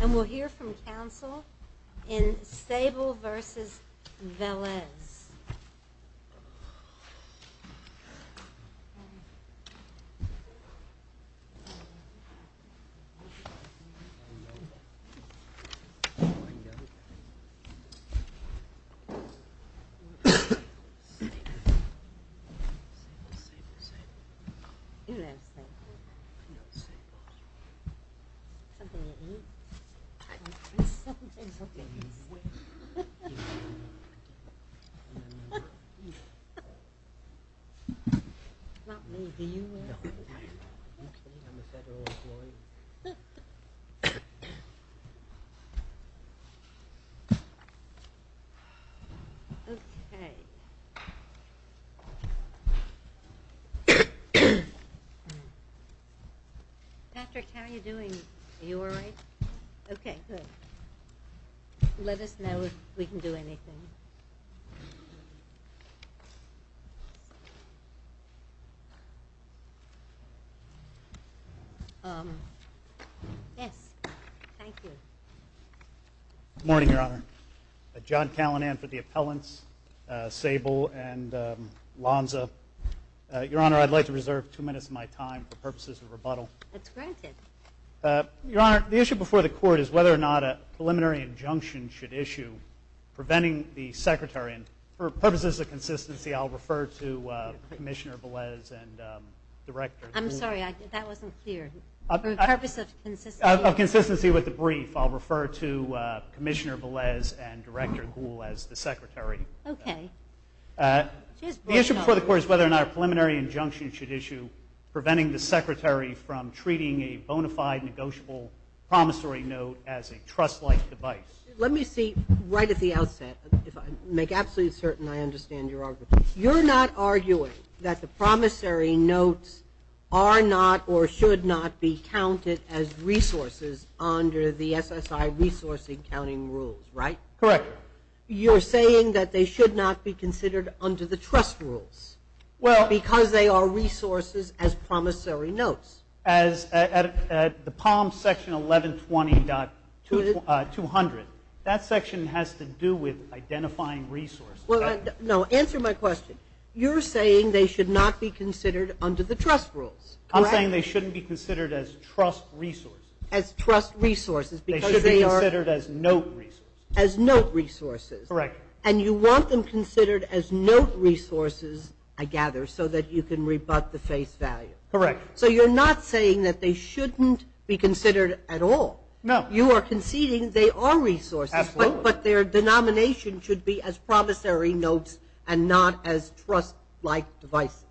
And we'll hear from Council in Sable v. Velez Something to eat? Not me, do you? No, I'm a federal employee Okay Okay Patrick, how are you doing? Are you alright? Okay, good Let us know if we can do anything Good morning, Your Honor John Callinan for the appellants, Sable and Lonza Your Honor, I'd like to reserve two minutes of my time for purposes of rebuttal That's granted Your Honor, the issue before the court is whether or not a preliminary injunction should issue preventing the Secretary, and for purposes of consistency, I'll refer to Commissioner Velez and Director I'm sorry, that wasn't clear For purposes of consistency For purposes of consistency with the brief, I'll refer to Commissioner Velez and Director Gould as the Secretary Okay The issue before the court is whether or not a preliminary injunction should issue preventing the Secretary from treating a bona fide negotiable promissory note as a trust-like device Let me say right at the outset, if I make absolutely certain I understand your argument You're not arguing that the promissory notes are not or should not be counted as resources under the SSI resourcing counting rules, right? Correct You're saying that they should not be considered under the trust rules Well Because they are resources as promissory notes As at the Palm section 1120.200, that section has to do with identifying resources No, answer my question. You're saying they should not be considered under the trust rules, correct? I'm saying they shouldn't be considered as trust resources As trust resources because they are They should be considered as note resources As note resources Correct And you want them considered as note resources, I gather, so that you can rebut the face value Correct So you're not saying that they shouldn't be considered at all No You are conceding they are resources Absolutely But their denomination should be as promissory notes and not as trust-like devices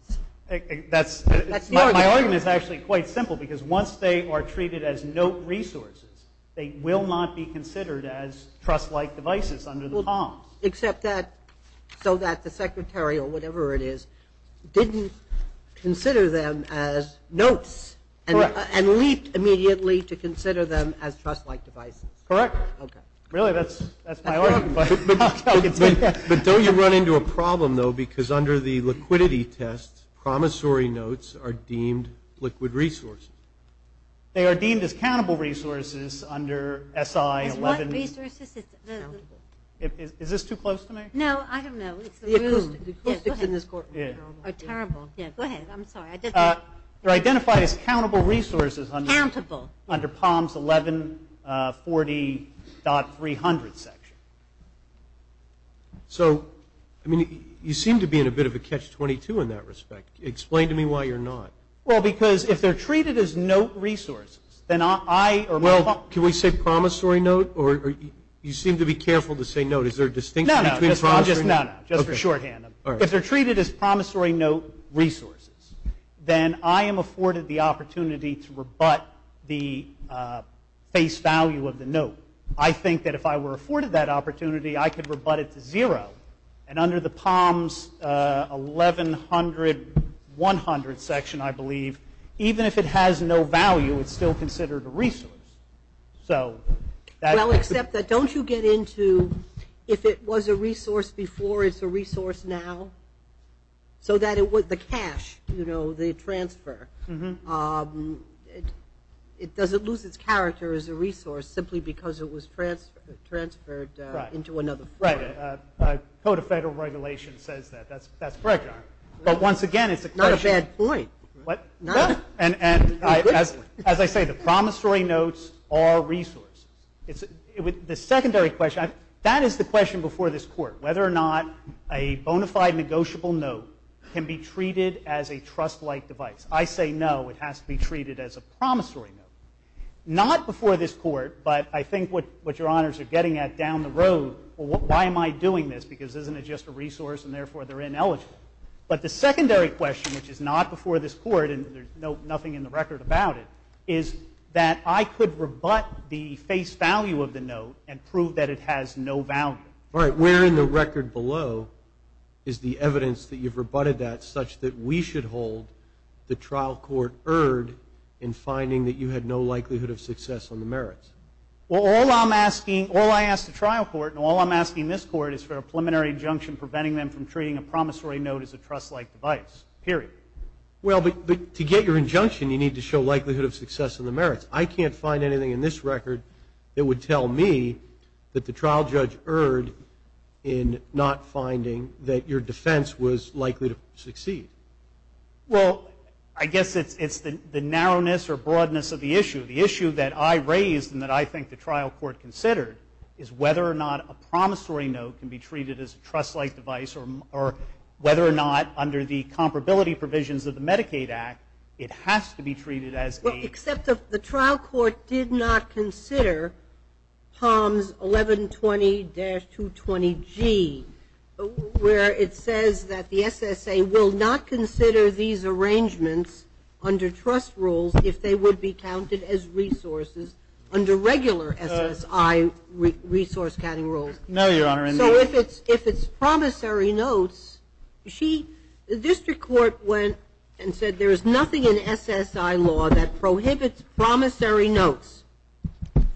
That's That's the argument My argument is actually quite simple because once they are treated as note resources They will not be considered as trust-like devices under the Palm Except that, so that the secretary or whatever it is, didn't consider them as notes Correct And leaped immediately to consider them as trust-like devices Correct Really, that's my argument, but I'll continue But don't you run into a problem, though, because under the liquidity test Promissory notes are deemed liquid resources They are deemed as countable resources under SI-11 As what resources? Is this too close to me? No, I don't know The acoustics in this courtroom are terrible Go ahead, I'm sorry They're identified as countable resources Countable Under Palm's 1140.300 section So, I mean, you seem to be in a bit of a catch-22 in that respect Explain to me why you're not Well, because if they're treated as note resources, then I Well, can we say promissory note? Or you seem to be careful to say note Is there a distinction between promissory notes? No, no, just for shorthand If they're treated as promissory note resources Then I am afforded the opportunity to rebut the face value of the note I think that if I were afforded that opportunity, I could rebut it to zero And under the Palm's 1100.100 section, I believe Even if it has no value, it's still considered a resource Well, except that don't you get into If it was a resource before, it's a resource now So that it was the cash, you know, the transfer It doesn't lose its character as a resource Simply because it was transferred into another form Right, Code of Federal Regulations says that That's correct, Your Honor But once again, it's a question Not a bad point What? No And as I say, the promissory notes are resources The secondary question, that is the question before this court Whether or not a bona fide negotiable note Can be treated as a trust-like device I say no, it has to be treated as a promissory note Not before this court, but I think what Your Honors are getting at down the road Why am I doing this? Because isn't it just a resource and therefore they're ineligible But the secondary question, which is not before this court And there's nothing in the record about it Is that I could rebut the face value of the note And prove that it has no value All right, where in the record below Is the evidence that you've rebutted that Such that we should hold the trial court erred In finding that you had no likelihood of success on the merits Well, all I'm asking, all I ask the trial court And all I'm asking this court is for a preliminary injunction Preventing them from treating a promissory note as a trust-like device Period Well, but to get your injunction You need to show likelihood of success on the merits I can't find anything in this record That would tell me that the trial judge erred In not finding that your defense was likely to succeed Well, I guess it's the narrowness or broadness of the issue The issue that I raised and that I think the trial court considered Is whether or not a promissory note can be treated as a trust-like device Or whether or not under the comparability provisions of the Medicaid Act It has to be treated as a Except the trial court did not consider POMS 1120-220G Where it says that the SSA will not consider these arrangements Under trust rules if they would be counted as resources Under regular SSI resource-counting rules No, Your Honor So if it's promissory notes The district court went and said There is nothing in SSI law that prohibits promissory notes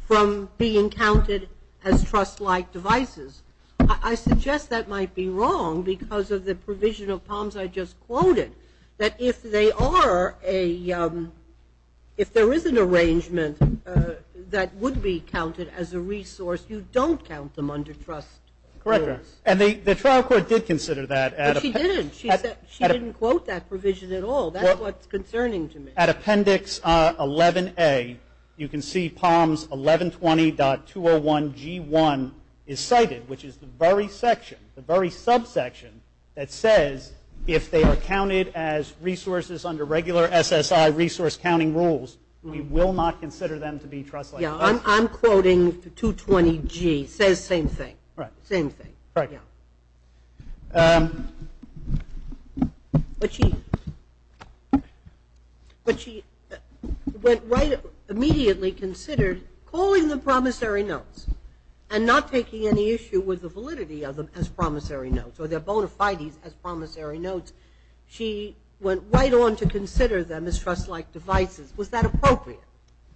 From being counted as trust-like devices I suggest that might be wrong Because of the provision of POMS I just quoted That if there is an arrangement That would be counted as a resource You don't count them under trust rules Correct, Your Honor And the trial court did consider that But she didn't She didn't quote that provision at all That's what's concerning to me At appendix 11A You can see POMS 1120.201G1 is cited Which is the very section, the very subsection That says if they are counted as resources Under regular SSI resource-counting rules We will not consider them to be trust-like devices Yeah, I'm quoting 220G It says the same thing Right But she immediately considered Calling them promissory notes And not taking any issue with the validity of them As promissory notes Or their bona fides as promissory notes She went right on to consider them as trust-like devices Was that appropriate?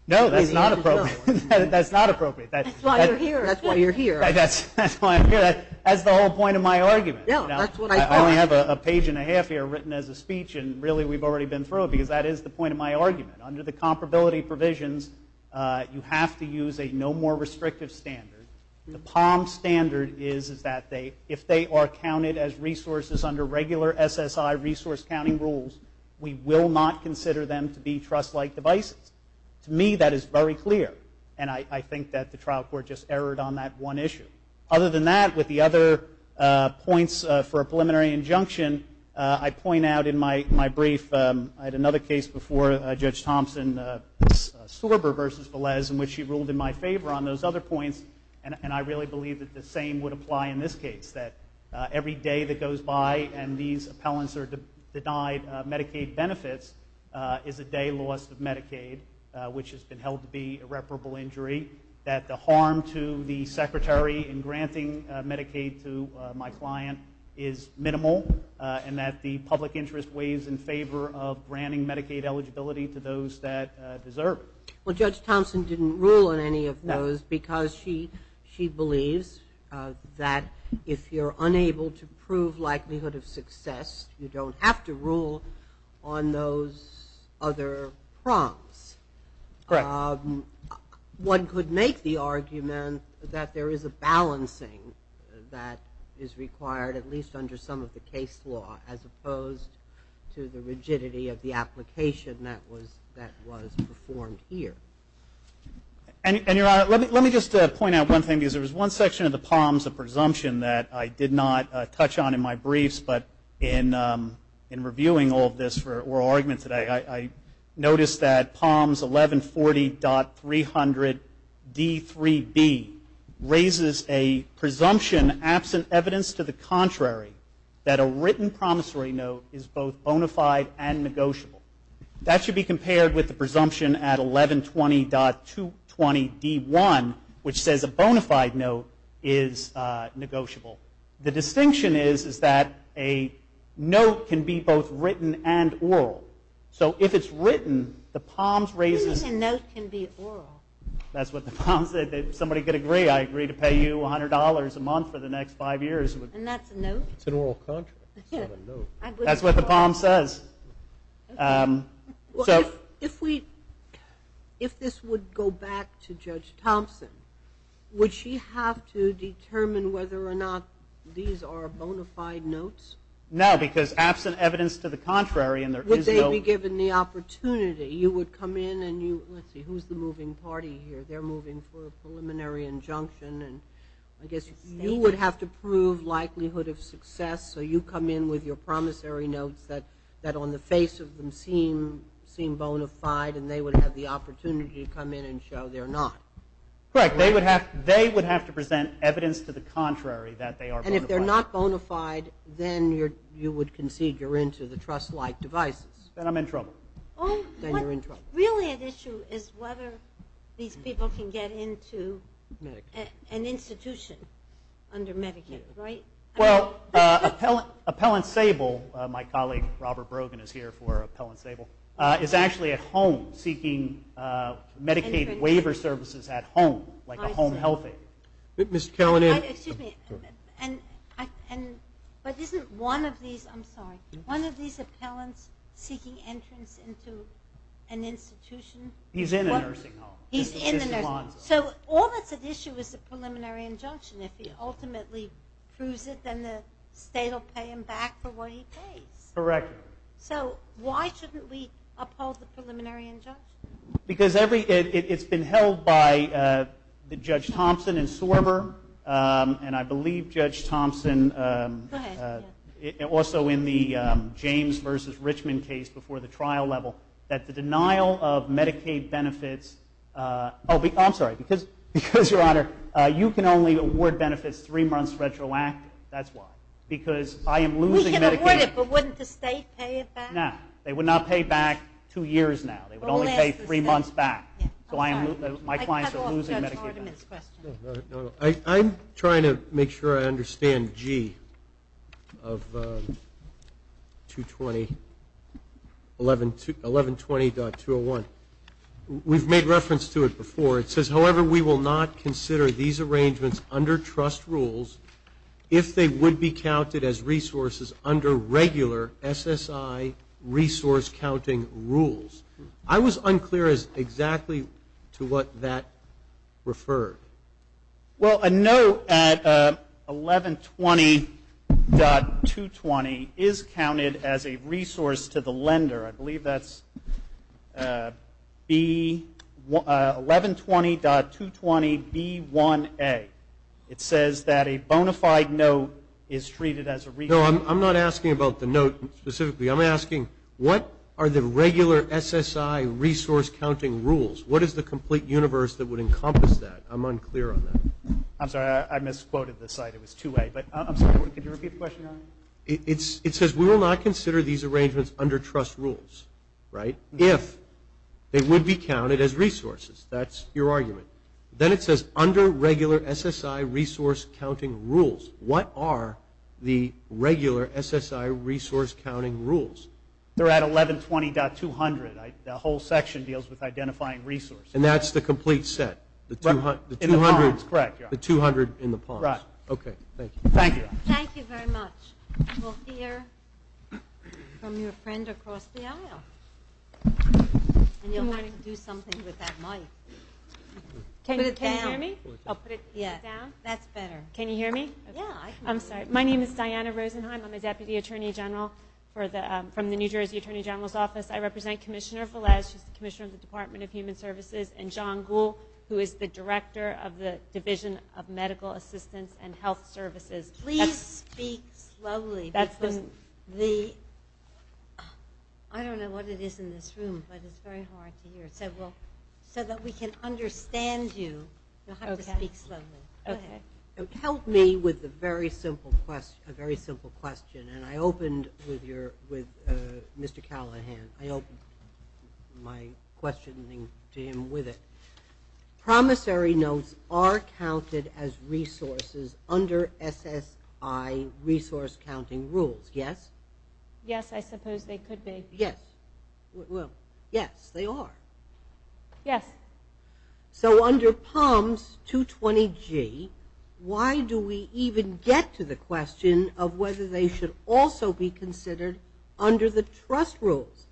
No, that's not appropriate That's why you're here That's why I'm here That's the whole point of my argument I only have a page and a half here Written as a speech And really we've already been through it Because that is the point of my argument Under the comparability provisions You have to use a no more restrictive standard The POMS standard is that If they are counted as resources Under regular SSI resource-counting rules We will not consider them to be trust-like devices To me that is very clear And I think that the trial court Just erred on that one issue Other than that With the other points for a preliminary injunction I point out in my brief I had another case before Judge Thompson Sorber v. Velez In which she ruled in my favor On those other points And I really believe that the same would apply in this case That every day that goes by And these appellants are denied Medicaid benefits Is a day lost of Medicaid Which has been held to be irreparable injury That the harm to the secretary In granting Medicaid to my client Is minimal And that the public interest Weighs in favor of granting Medicaid eligibility To those that deserve it Well Judge Thompson didn't rule on any of those Because she believes That if you're unable to prove likelihood of success You don't have to rule on those other prompts Correct One could make the argument That there is a balancing That is required At least under some of the case law As opposed to the rigidity of the application That was performed here And your honor Let me just point out one thing Because there was one section of the POMS A presumption that I did not touch on in my briefs But in reviewing all of this For oral argument today I noticed that POMS 1140.300 D3B Raises a presumption Absent evidence to the contrary That a written promissory note Is both bona fide and negotiable That should be compared with the presumption At 1120.220 D1 Which says a bona fide note is negotiable The distinction is Is that a note can be both written and oral So if it's written The POMS raises Even a note can be oral That's what the POMS said If somebody could agree I agree to pay you $100 a month For the next five years And that's a note? It's an oral contract It's not a note That's what the POMS says If we If this would go back to Judge Thompson Would she have to determine whether or not These are bona fide notes? No, because absent evidence to the contrary And there is no Would they be given the opportunity You would come in and you Let's see, who's the moving party here? They're moving for a preliminary injunction And I guess you would have to prove Likelihood of success So you come in with your promissory notes That on the face of them Seem bona fide And they would have the opportunity To come in and show they're not Correct They would have to present evidence To the contrary That they are bona fide And if they're not bona fide Then you would concede If you're into the trust-like devices Then I'm in trouble Then you're in trouble Really the issue is whether These people can get into An institution Under Medicaid, right? Well, Appellant Sable My colleague Robert Brogan is here for Appellant Sable Is actually at home Seeking Medicaid waiver services at home Like a home health aid But, Mr. Kellen Excuse me And But isn't one of these I'm sorry One of these appellants Seeking entrance into an institution He's in a nursing home He's in a nursing home So all that's at issue Is the preliminary injunction If he ultimately proves it Then the state will pay him back For what he pays Correct So why shouldn't we Uphold the preliminary injunction? Because it's been held by Judge Thompson and Sorber And I believe Judge Thompson Go ahead Also in the James vs. Richmond case Before the trial level That the denial of Medicaid benefits Oh, I'm sorry Because, Your Honor You can only award benefits Three months retroactive That's why Because I am losing Medicaid We can award it But wouldn't the state pay it back? No They would not pay back Two years now They would only pay three months back So I am My clients are losing Medicaid benefits I'm trying to make sure I understand G Of 220 1120.201 We've made reference to it before It says, however, we will not consider These arrangements under trust rules If they would be counted as resources Under regular SSI resource counting rules I was unclear as to exactly To what that referred Well, a note at 1120.220 Is counted as a resource to the lender I believe that's 1120.220B1A It says that a bona fide note Is treated as a resource No, I'm not asking about the note Specifically I'm asking What are the regular SSI resource counting rules? What is the complete universe That would encompass that? I'm unclear on that I'm sorry I misquoted the site It was 2A But I'm sorry Could you repeat the question? It says We will not consider these arrangements Under trust rules Right? If they would be counted as resources That's your argument Then it says Under regular SSI resource counting rules What are the regular SSI resource counting rules? They're at 1120.200 The whole section deals with identifying resources And that's the complete set? In the palms, correct The 200 in the palms Right Okay, thank you Thank you very much We'll hear from your friend across the aisle And you'll have to do something with that mic Can you hear me? That's better Can you hear me? Yeah I'm sorry My name is Diana Rosenheim I'm a Deputy Attorney General From the New Jersey Attorney General's Office I represent Commissioner Velez She's the Commissioner of the Department of Human Services And John Gould Who is the Director of the Division of Medical Assistance and Health Services Please speak slowly I don't know what it is in this room But it's very hard to hear So that we can understand you You'll have to speak slowly Help me with a very simple question And I opened with Mr. Callahan I opened my questioning to him with it Promissory notes are counted as resources Under SSI resource counting rules, yes? Yes, I suppose they could be Yes, well, yes, they are Yes So under POMS 220G Why do we even get to the question Of whether they should also be considered Under the trust rules?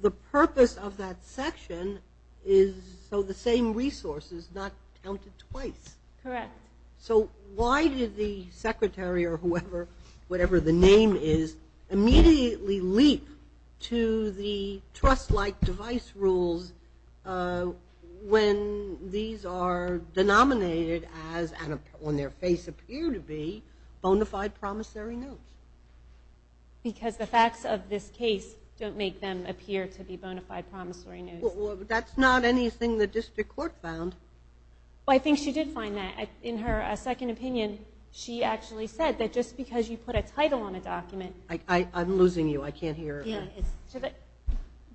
The purpose of that section Is so the same resource is not counted twice Correct So why did the Secretary or whoever Whatever the name is Immediately leap to the trust-like device rules When these are denominated as And on their face appear to be Bonafide promissory notes Because the facts of this case Don't make them appear to be Bonafide promissory notes Well, that's not anything The district court found Well, I think she did find that In her second opinion She actually said that just because You put a title on a document I'm losing you, I can't hear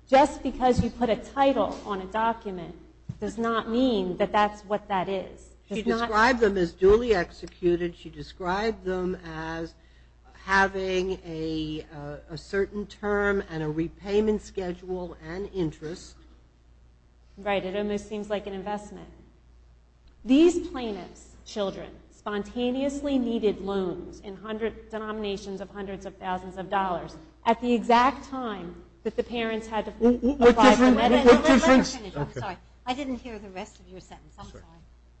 Just because you put a title on a document Does not mean that that's what that is She described them as duly executed She described them as having A certain term and a repayment schedule And interest Right, it almost seems like an investment These plaintiffs' children Spontaneously needed loans In denominations of hundreds of thousands of dollars At the exact time that the parents had to What difference? I didn't hear the rest of your sentence I'm sorry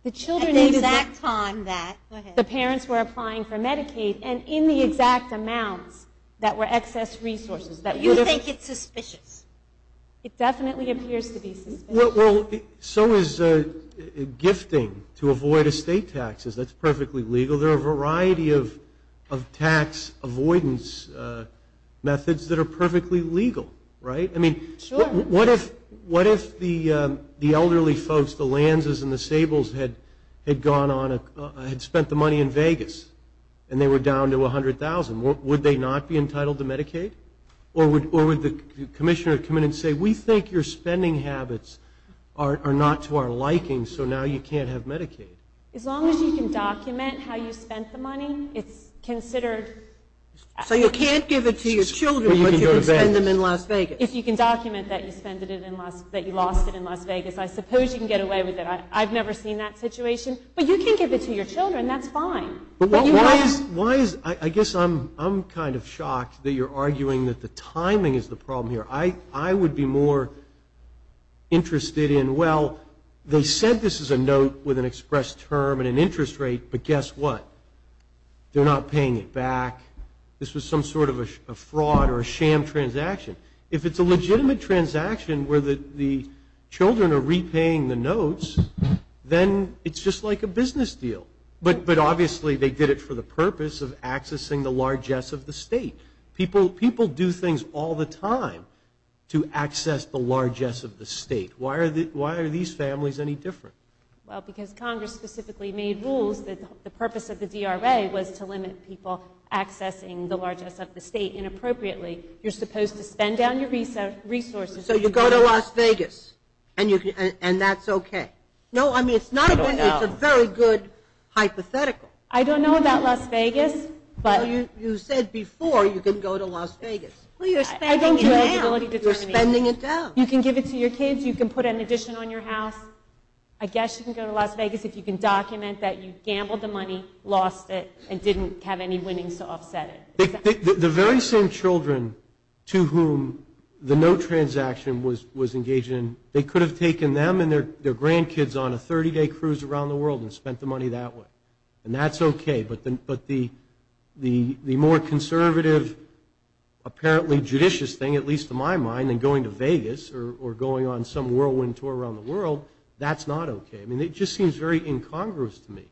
At the exact time that The parents were applying for Medicaid And in the exact amounts That were excess resources You think it's suspicious? It definitely appears to be suspicious Well, so is gifting To avoid estate taxes That's perfectly legal There are a variety of tax avoidance Methods that are perfectly legal, right? Sure What if the elderly folks The Lanzes and the Sables Had spent the money in Vegas And they were down to $100,000 Would they not be entitled to Medicaid? Or would the commissioner come in and say We think your spending habits Are not to our liking So now you can't have Medicaid As long as you can document how you spent the money It's considered So you can't give it to your children But you can spend them in Las Vegas If you can document that you lost it in Las Vegas I suppose you can get away with it I've never seen that situation But you can give it to your children That's fine But why is I guess I'm kind of shocked That you're arguing that the timing is the problem here I would be more interested in Well, they said this is a note With an express term and an interest rate But guess what? They're not paying it back This was some sort of a fraud Or a sham transaction If it's a legitimate transaction Where the children are repaying the notes Then it's just like a business deal But obviously they did it for the purpose Of accessing the largesse of the state People do things all the time To access the largesse of the state Why are these families any different? Well, because Congress specifically made rules That the purpose of the DRA Was to limit people Accessing the largesse of the state Inappropriately You're supposed to spend down your resources So you go to Las Vegas And that's okay No, I mean, it's not a good It's a very good hypothetical I don't know about Las Vegas You said before you can go to Las Vegas Well, you're spending it down You're spending it down You can give it to your kids You can put an addition on your house I guess you can go to Las Vegas If you can document that you gambled the money Lost it And didn't have any winnings to offset it The very same children To whom the no transaction was engaging They could have taken them And their grandkids on a 30-day cruise around the world And spent the money that way And that's okay But the more conservative Apparently judicious thing At least in my mind Than going to Vegas Or going on some whirlwind tour around the world That's not okay I mean, it just seems very incongruous to me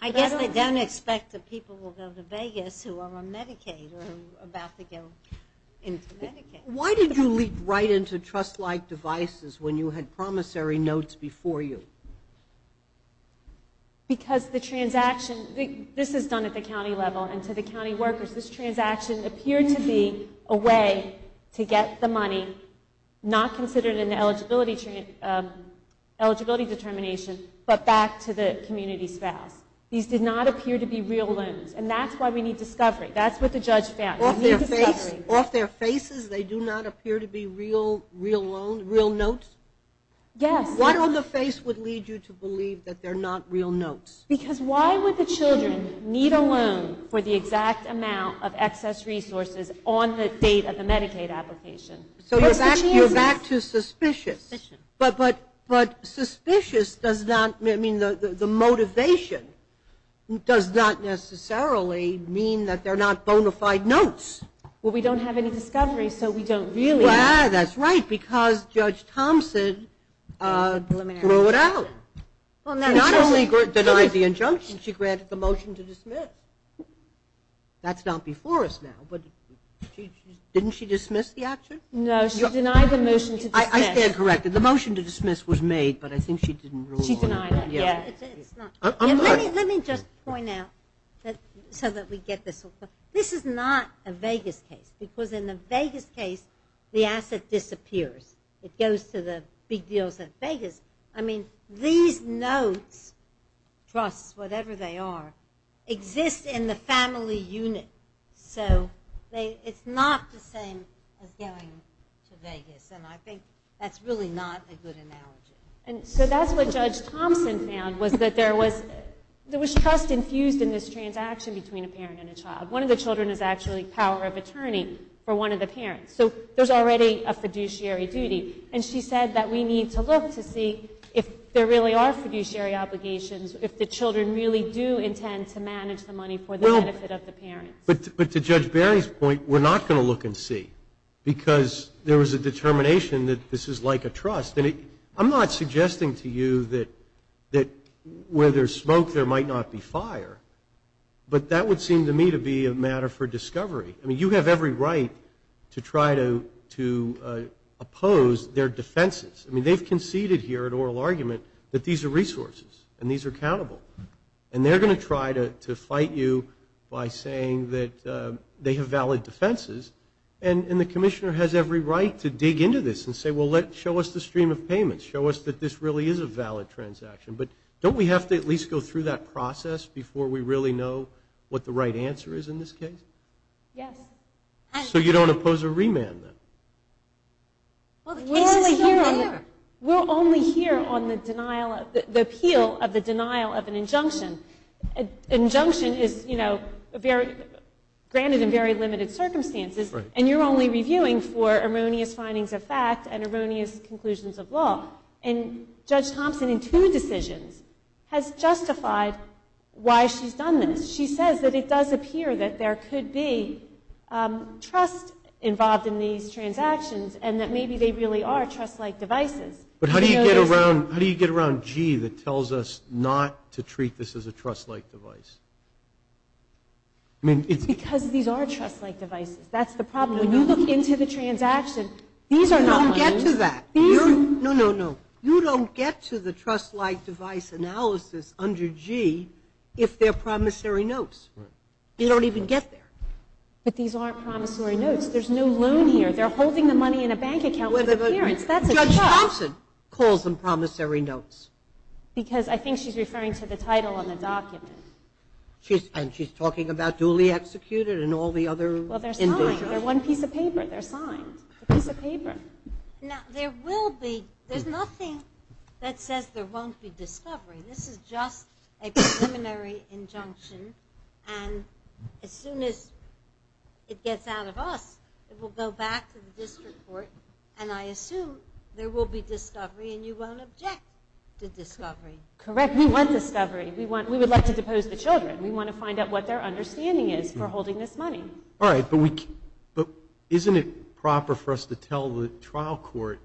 I guess they don't expect that people will go to Vegas Who are on Medicaid Or about to go into Medicaid Why did you leap right into trust-like devices When you had promissory notes before you? Because the transaction This is done at the county level And to the county workers This transaction appeared to be a way To get the money Not considered an eligibility determination But back to the community spouse These did not appear to be real loans And that's why we need discovery That's what the judge found Off their faces They do not appear to be real notes? Yes What on the face would lead you to believe That they're not real notes? Because why would the children Need a loan For the exact amount of excess resources On the date of the Medicaid application? So you're back to suspicious But suspicious does not I mean the motivation Does not necessarily mean That they're not bona fide notes Well we don't have any discovery So we don't really That's right Because Judge Thompson Threw it out She not only denied the injunction She granted the motion to dismiss That's not before us now But didn't she dismiss the action? No she denied the motion to dismiss I stand corrected The motion to dismiss was made But I think she didn't rule on it She denied it Yeah Let me just point out So that we get this This is not a Vegas case Because in the Vegas case The asset disappears It goes to the big deals at Vegas I mean these notes Trusts, whatever they are Exist in the family unit So it's not the same As going to Vegas And I think that's really not a good analogy And so that's what Judge Thompson found Was that there was There was trust infused in this transaction Between a parent and a child One of the children is actually power of attorney For one of the parents So there's already a fiduciary duty And she said that we need to look To see if there really are fiduciary obligations If the children really do intend To manage the money for the benefit of the parents But to Judge Barry's point We're not going to look and see Because there was a determination That this is like a trust And I'm not suggesting to you That where there's smoke There might not be fire But that would seem to me To be a matter for discovery I mean you have every right To try to Oppose their defenses I mean they've conceded here In oral argument That these are resources And these are accountable And they're going to try to fight you By saying that They have valid defenses And the commissioner has every right To dig into this and say Well show us the stream of payments Show us that this really is a valid transaction But don't we have to at least go through that process Before we really know What the right answer is in this case Yes So you don't oppose a remand then Well the case is still there We're only here on the denial The appeal of the denial Of an injunction An injunction is you know Granted in very limited circumstances And you're only reviewing for Erroneous findings of fact And erroneous conclusions of law And Judge Thompson in two decisions Has justified Why she's done this She says that it does appear that there could be Trust Involved in these transactions And that maybe they really are trust like devices But how do you get around G that tells us not To treat this as a trust like device I mean it's Because these are trust like devices That's the problem When you look into the transaction You don't get to that You don't get to the trust like device analysis Under G If they're promissory notes You don't even get there But these aren't promissory notes There's no loan here They're holding the money in a bank account Judge Thompson calls them promissory notes Because I think she's referring to the title On the document And she's talking about duly executed And all the other They're one piece of paper Now there will be There's nothing That says there won't be discovery This is just a preliminary Injunction And as soon as It gets out of us It will go back to the district court And I assume there will be discovery And you won't object to discovery Correct we want discovery We would like to depose the children We want to find out what their understanding is For holding this money But isn't it proper for us to tell The trial court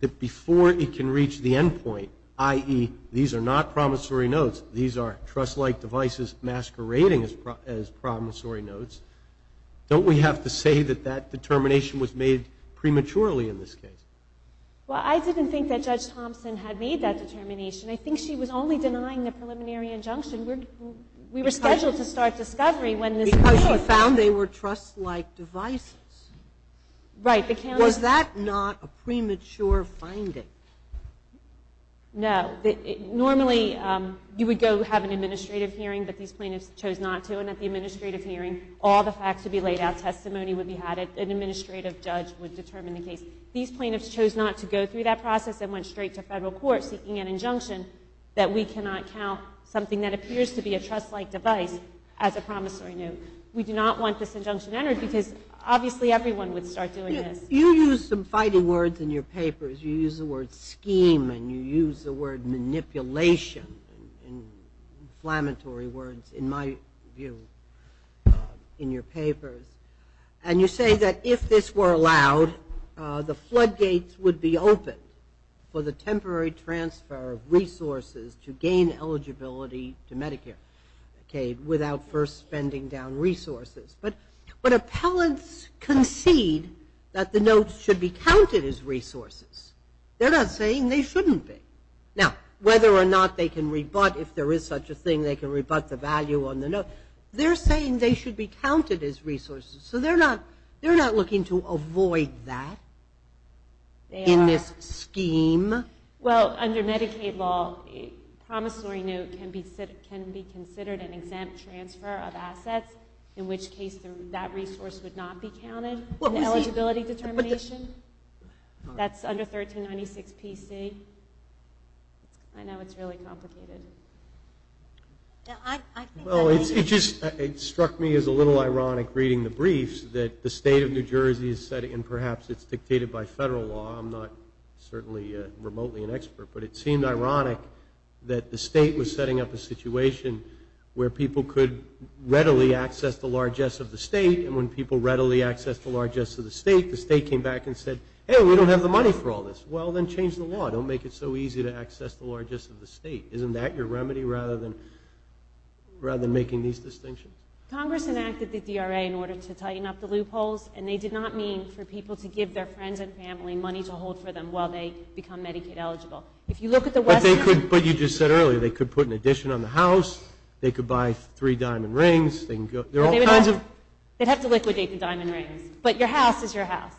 That before it can reach the end point I.e. these are not promissory notes These are trust like devices Masquerading as promissory notes Don't we have to say That that determination was made Prematurely in this case Well I didn't think that Judge Thompson Had made that determination I think she was only denying the preliminary injunction We were scheduled to start discovery Because you found they were Trust like devices Right Was that not a premature finding No Normally You would go have an administrative hearing But these plaintiffs chose not to And at the administrative hearing All the facts would be laid out Testimony would be added An administrative judge would determine the case These plaintiffs chose not to go through that process And went straight to federal court Seeking an injunction that we cannot count Something that appears to be a trust like device As a promissory note We do not want this injunction entered Because obviously everyone would start doing this You use some fighting words in your papers You use the word scheme And you use the word manipulation Inflammatory words In my view In your papers And you say that If this were allowed The floodgates would be open For the temporary transfer Of resources to gain eligibility To Medicare Without first spending down resources But appellants Concede that the notes Should be counted as resources They're not saying they shouldn't be Now whether or not they can Rebut if there is such a thing They can rebut the value on the note They're saying they should be counted As resources So they're not looking to avoid that In this scheme Well under Medicaid law A promissory note Can be considered An exempt transfer of assets In which case that resource Would not be counted In the eligibility determination That's under 1396 PC I know it's really complicated I think It struck me as a little ironic Reading the briefs That the state of New Jersey And perhaps it's dictated by federal law I'm not certainly remotely an expert But it seemed ironic That the state was setting up a situation Where people could readily Access the largesse of the state And when people readily access the largesse of the state The state came back and said Hey we don't have the money for all this Well then change the law Don't make it so easy to access the largesse of the state Isn't that your remedy Rather than making these distinctions Congress enacted the DRA In order to tighten up the loopholes And they did not mean for people to give their friends And family money to hold for them While they become Medicaid eligible But you just said earlier They could put an addition on the house They could buy three diamond rings There are all kinds of They'd have to liquidate the diamond rings But your house is your house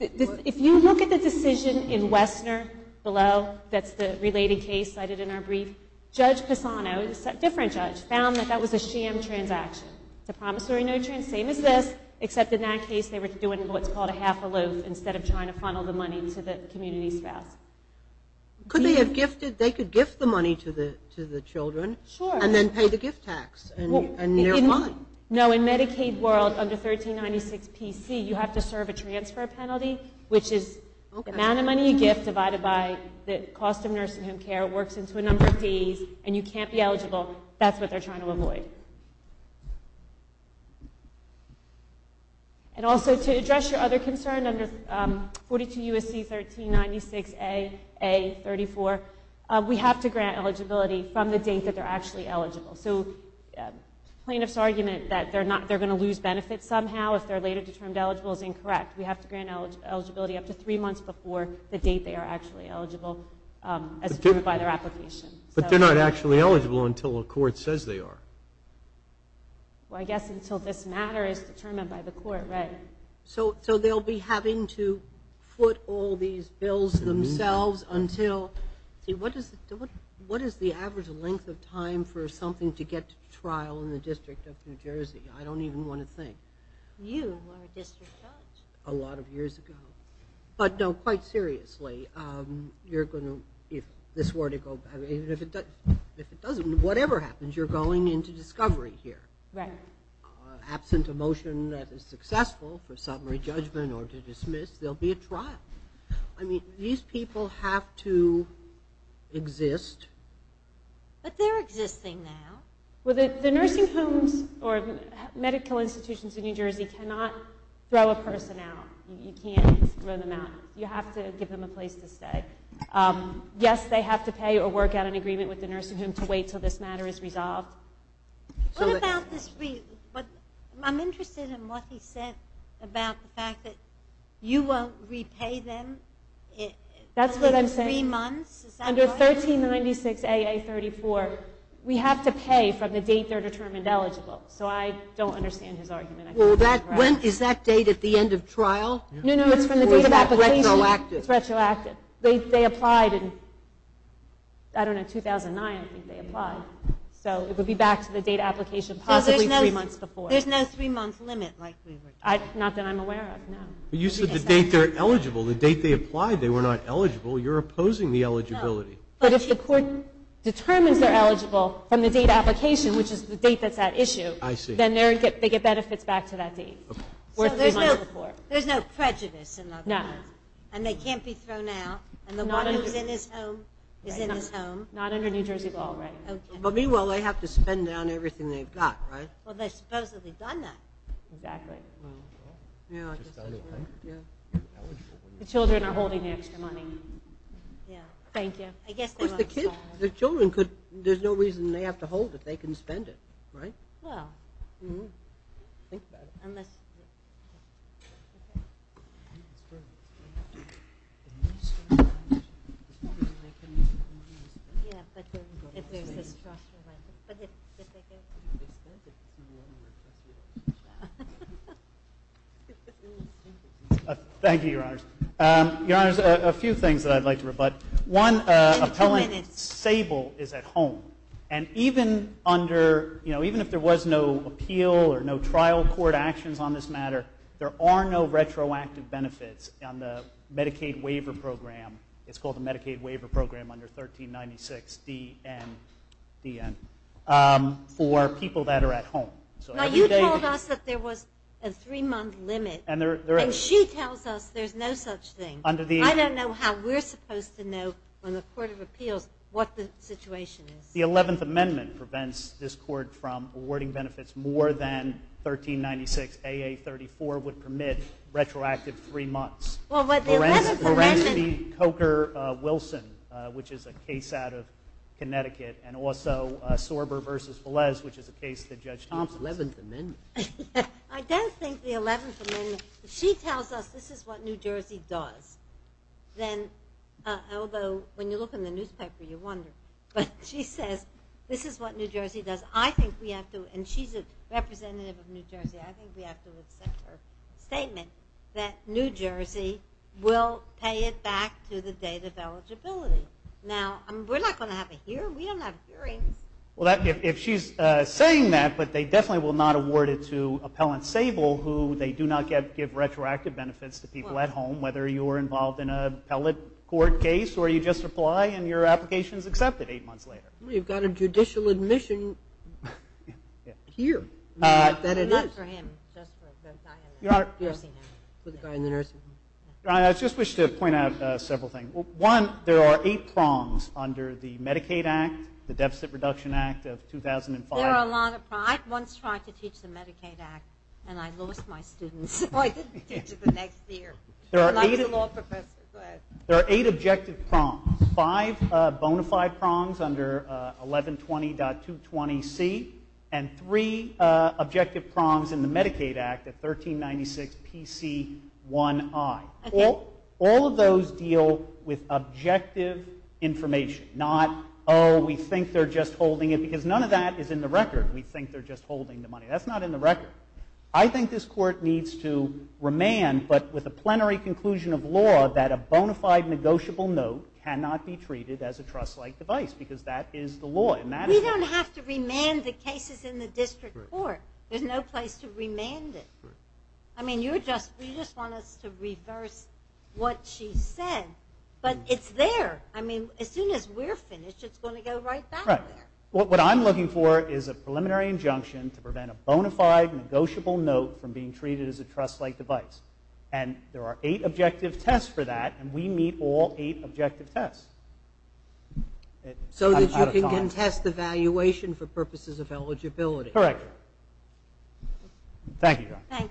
If you look at the decision In Wessner below That's the related case cited in our brief Judge Pisano Different judge found that that was a sham transaction It's a promissory note transaction Same as this except in that case They were doing what's called a half aloof Instead of trying to funnel the money to the community spouse Could they have gifted They could gift the money to the children Sure And then pay the gift tax No in Medicaid world Under 1396 PC You have to serve a transfer penalty Which is the amount of money you give Divided by the cost of nursing home care Works into a number of fees And you can't be eligible That's what they're trying to avoid And also to address your other concern Under 42 U.S.C. 1396 A A 34 We have to grant eligibility From the date that they're actually eligible So plaintiff's argument That they're going to lose benefits somehow If they're later determined eligible is incorrect We have to grant eligibility up to three months Before the date they are actually eligible As determined by their application But they're not actually eligible Until a court says they are Well I guess until this matter Is determined by the court So they'll be having to Put all these bills Themselves until What is the average Length of time for something to get Trial in the district of New Jersey I don't even want to think You are a district judge A lot of years ago But no quite seriously You're going to If this were to go Whatever happens you're going into discovery here Right Absent a motion that is successful For summary judgment or to dismiss There'll be a trial I mean these people have to Exist But they're existing now Well the nursing homes Or medical institutions in New Jersey Cannot throw a person out You can't throw them out You have to give them a place to stay Yes they have to pay Or work out an agreement with the nursing home To wait until this matter is resolved What about this I'm interested in what he said About the fact that You won't repay them That's what I'm saying Three months Under 1396AA34 We have to pay from the date they're determined eligible So I don't understand his argument Is that date at the end of trial No no It's from the date of application It's retroactive They applied in I don't know 2009 So it would be back to the date of application Possibly three months before There's no three month limit Not that I'm aware of You said the date they're eligible The date they applied they were not eligible You're opposing the eligibility But if the court determines they're eligible From the date of application Which is the date that's at issue Then they get benefits back to that date There's no prejudice And they can't be thrown out And the one who's in his home Is in his home Not under New Jersey law But meanwhile they have to spend down everything they've got Well they've supposedly done that Exactly The children are holding extra money Thank you The children could There's no reason they have to hold it They can spend it Think about it Thank you Thank you your honors Your honors a few things I'd like to rebut One Appellant Sable is at home And even under Even if there was no appeal Or no trial court actions on this matter There are no retroactive benefits On the Medicaid waiver program It's called the Medicaid waiver program Under 1396 D.N. D.N. For people that are at home Now you told us that there was A three month limit And she tells us there's no such thing I don't know how we're supposed to know On the court of appeals What the situation is The 11th amendment prevents this court from Awarding benefits more than 1396 A.A. 34 Would permit retroactive three months Well but the 11th amendment Lorenzo Coker Wilson Which is a case out of Connecticut And also Sorber versus 11th amendment I don't think the 11th amendment She tells us this is what New Jersey Does Although when you look in the newspaper You wonder but she says This is what New Jersey does I think we have to and she's a representative Of New Jersey I think we have to Accept her statement that New Jersey will pay it Back to the date of eligibility Now we're not going to have a hearing We don't have hearings Well if she's saying that But they definitely will not award it to Appellant Sable who they do not Give retroactive benefits to people at home Whether you were involved in an appellate Court case or you just apply And your application is accepted eight months later You've got a judicial admission Here That it is Your honor I just wish to Point out several things One there are eight prongs under the Medicaid Act of 2005 I once tried to teach the Medicaid Act And I lost my students So I didn't teach it the next year There are eight Objective prongs Five bona fide prongs Under 1120.220c And three Objective prongs in the Medicaid Act 1396 PC 1i All of those deal with Objective information Not oh we think they're just Holding it because none of that is in the record We think they're just holding the money That's not in the record I think this court needs to remand But with a plenary conclusion of law That a bona fide negotiable note Cannot be treated as a trust like device Because that is the law We don't have to remand the cases in the district court There's no place to remand it I mean you're just You just want us to reverse What she said But it's there As soon as we're finished it's going to go right back there What I'm looking for Is a preliminary injunction to prevent A bona fide negotiable note From being treated as a trust like device And there are eight objective tests for that And we meet all eight objective tests So that you can contest the valuation For purposes of eligibility Correct Thank you Thank you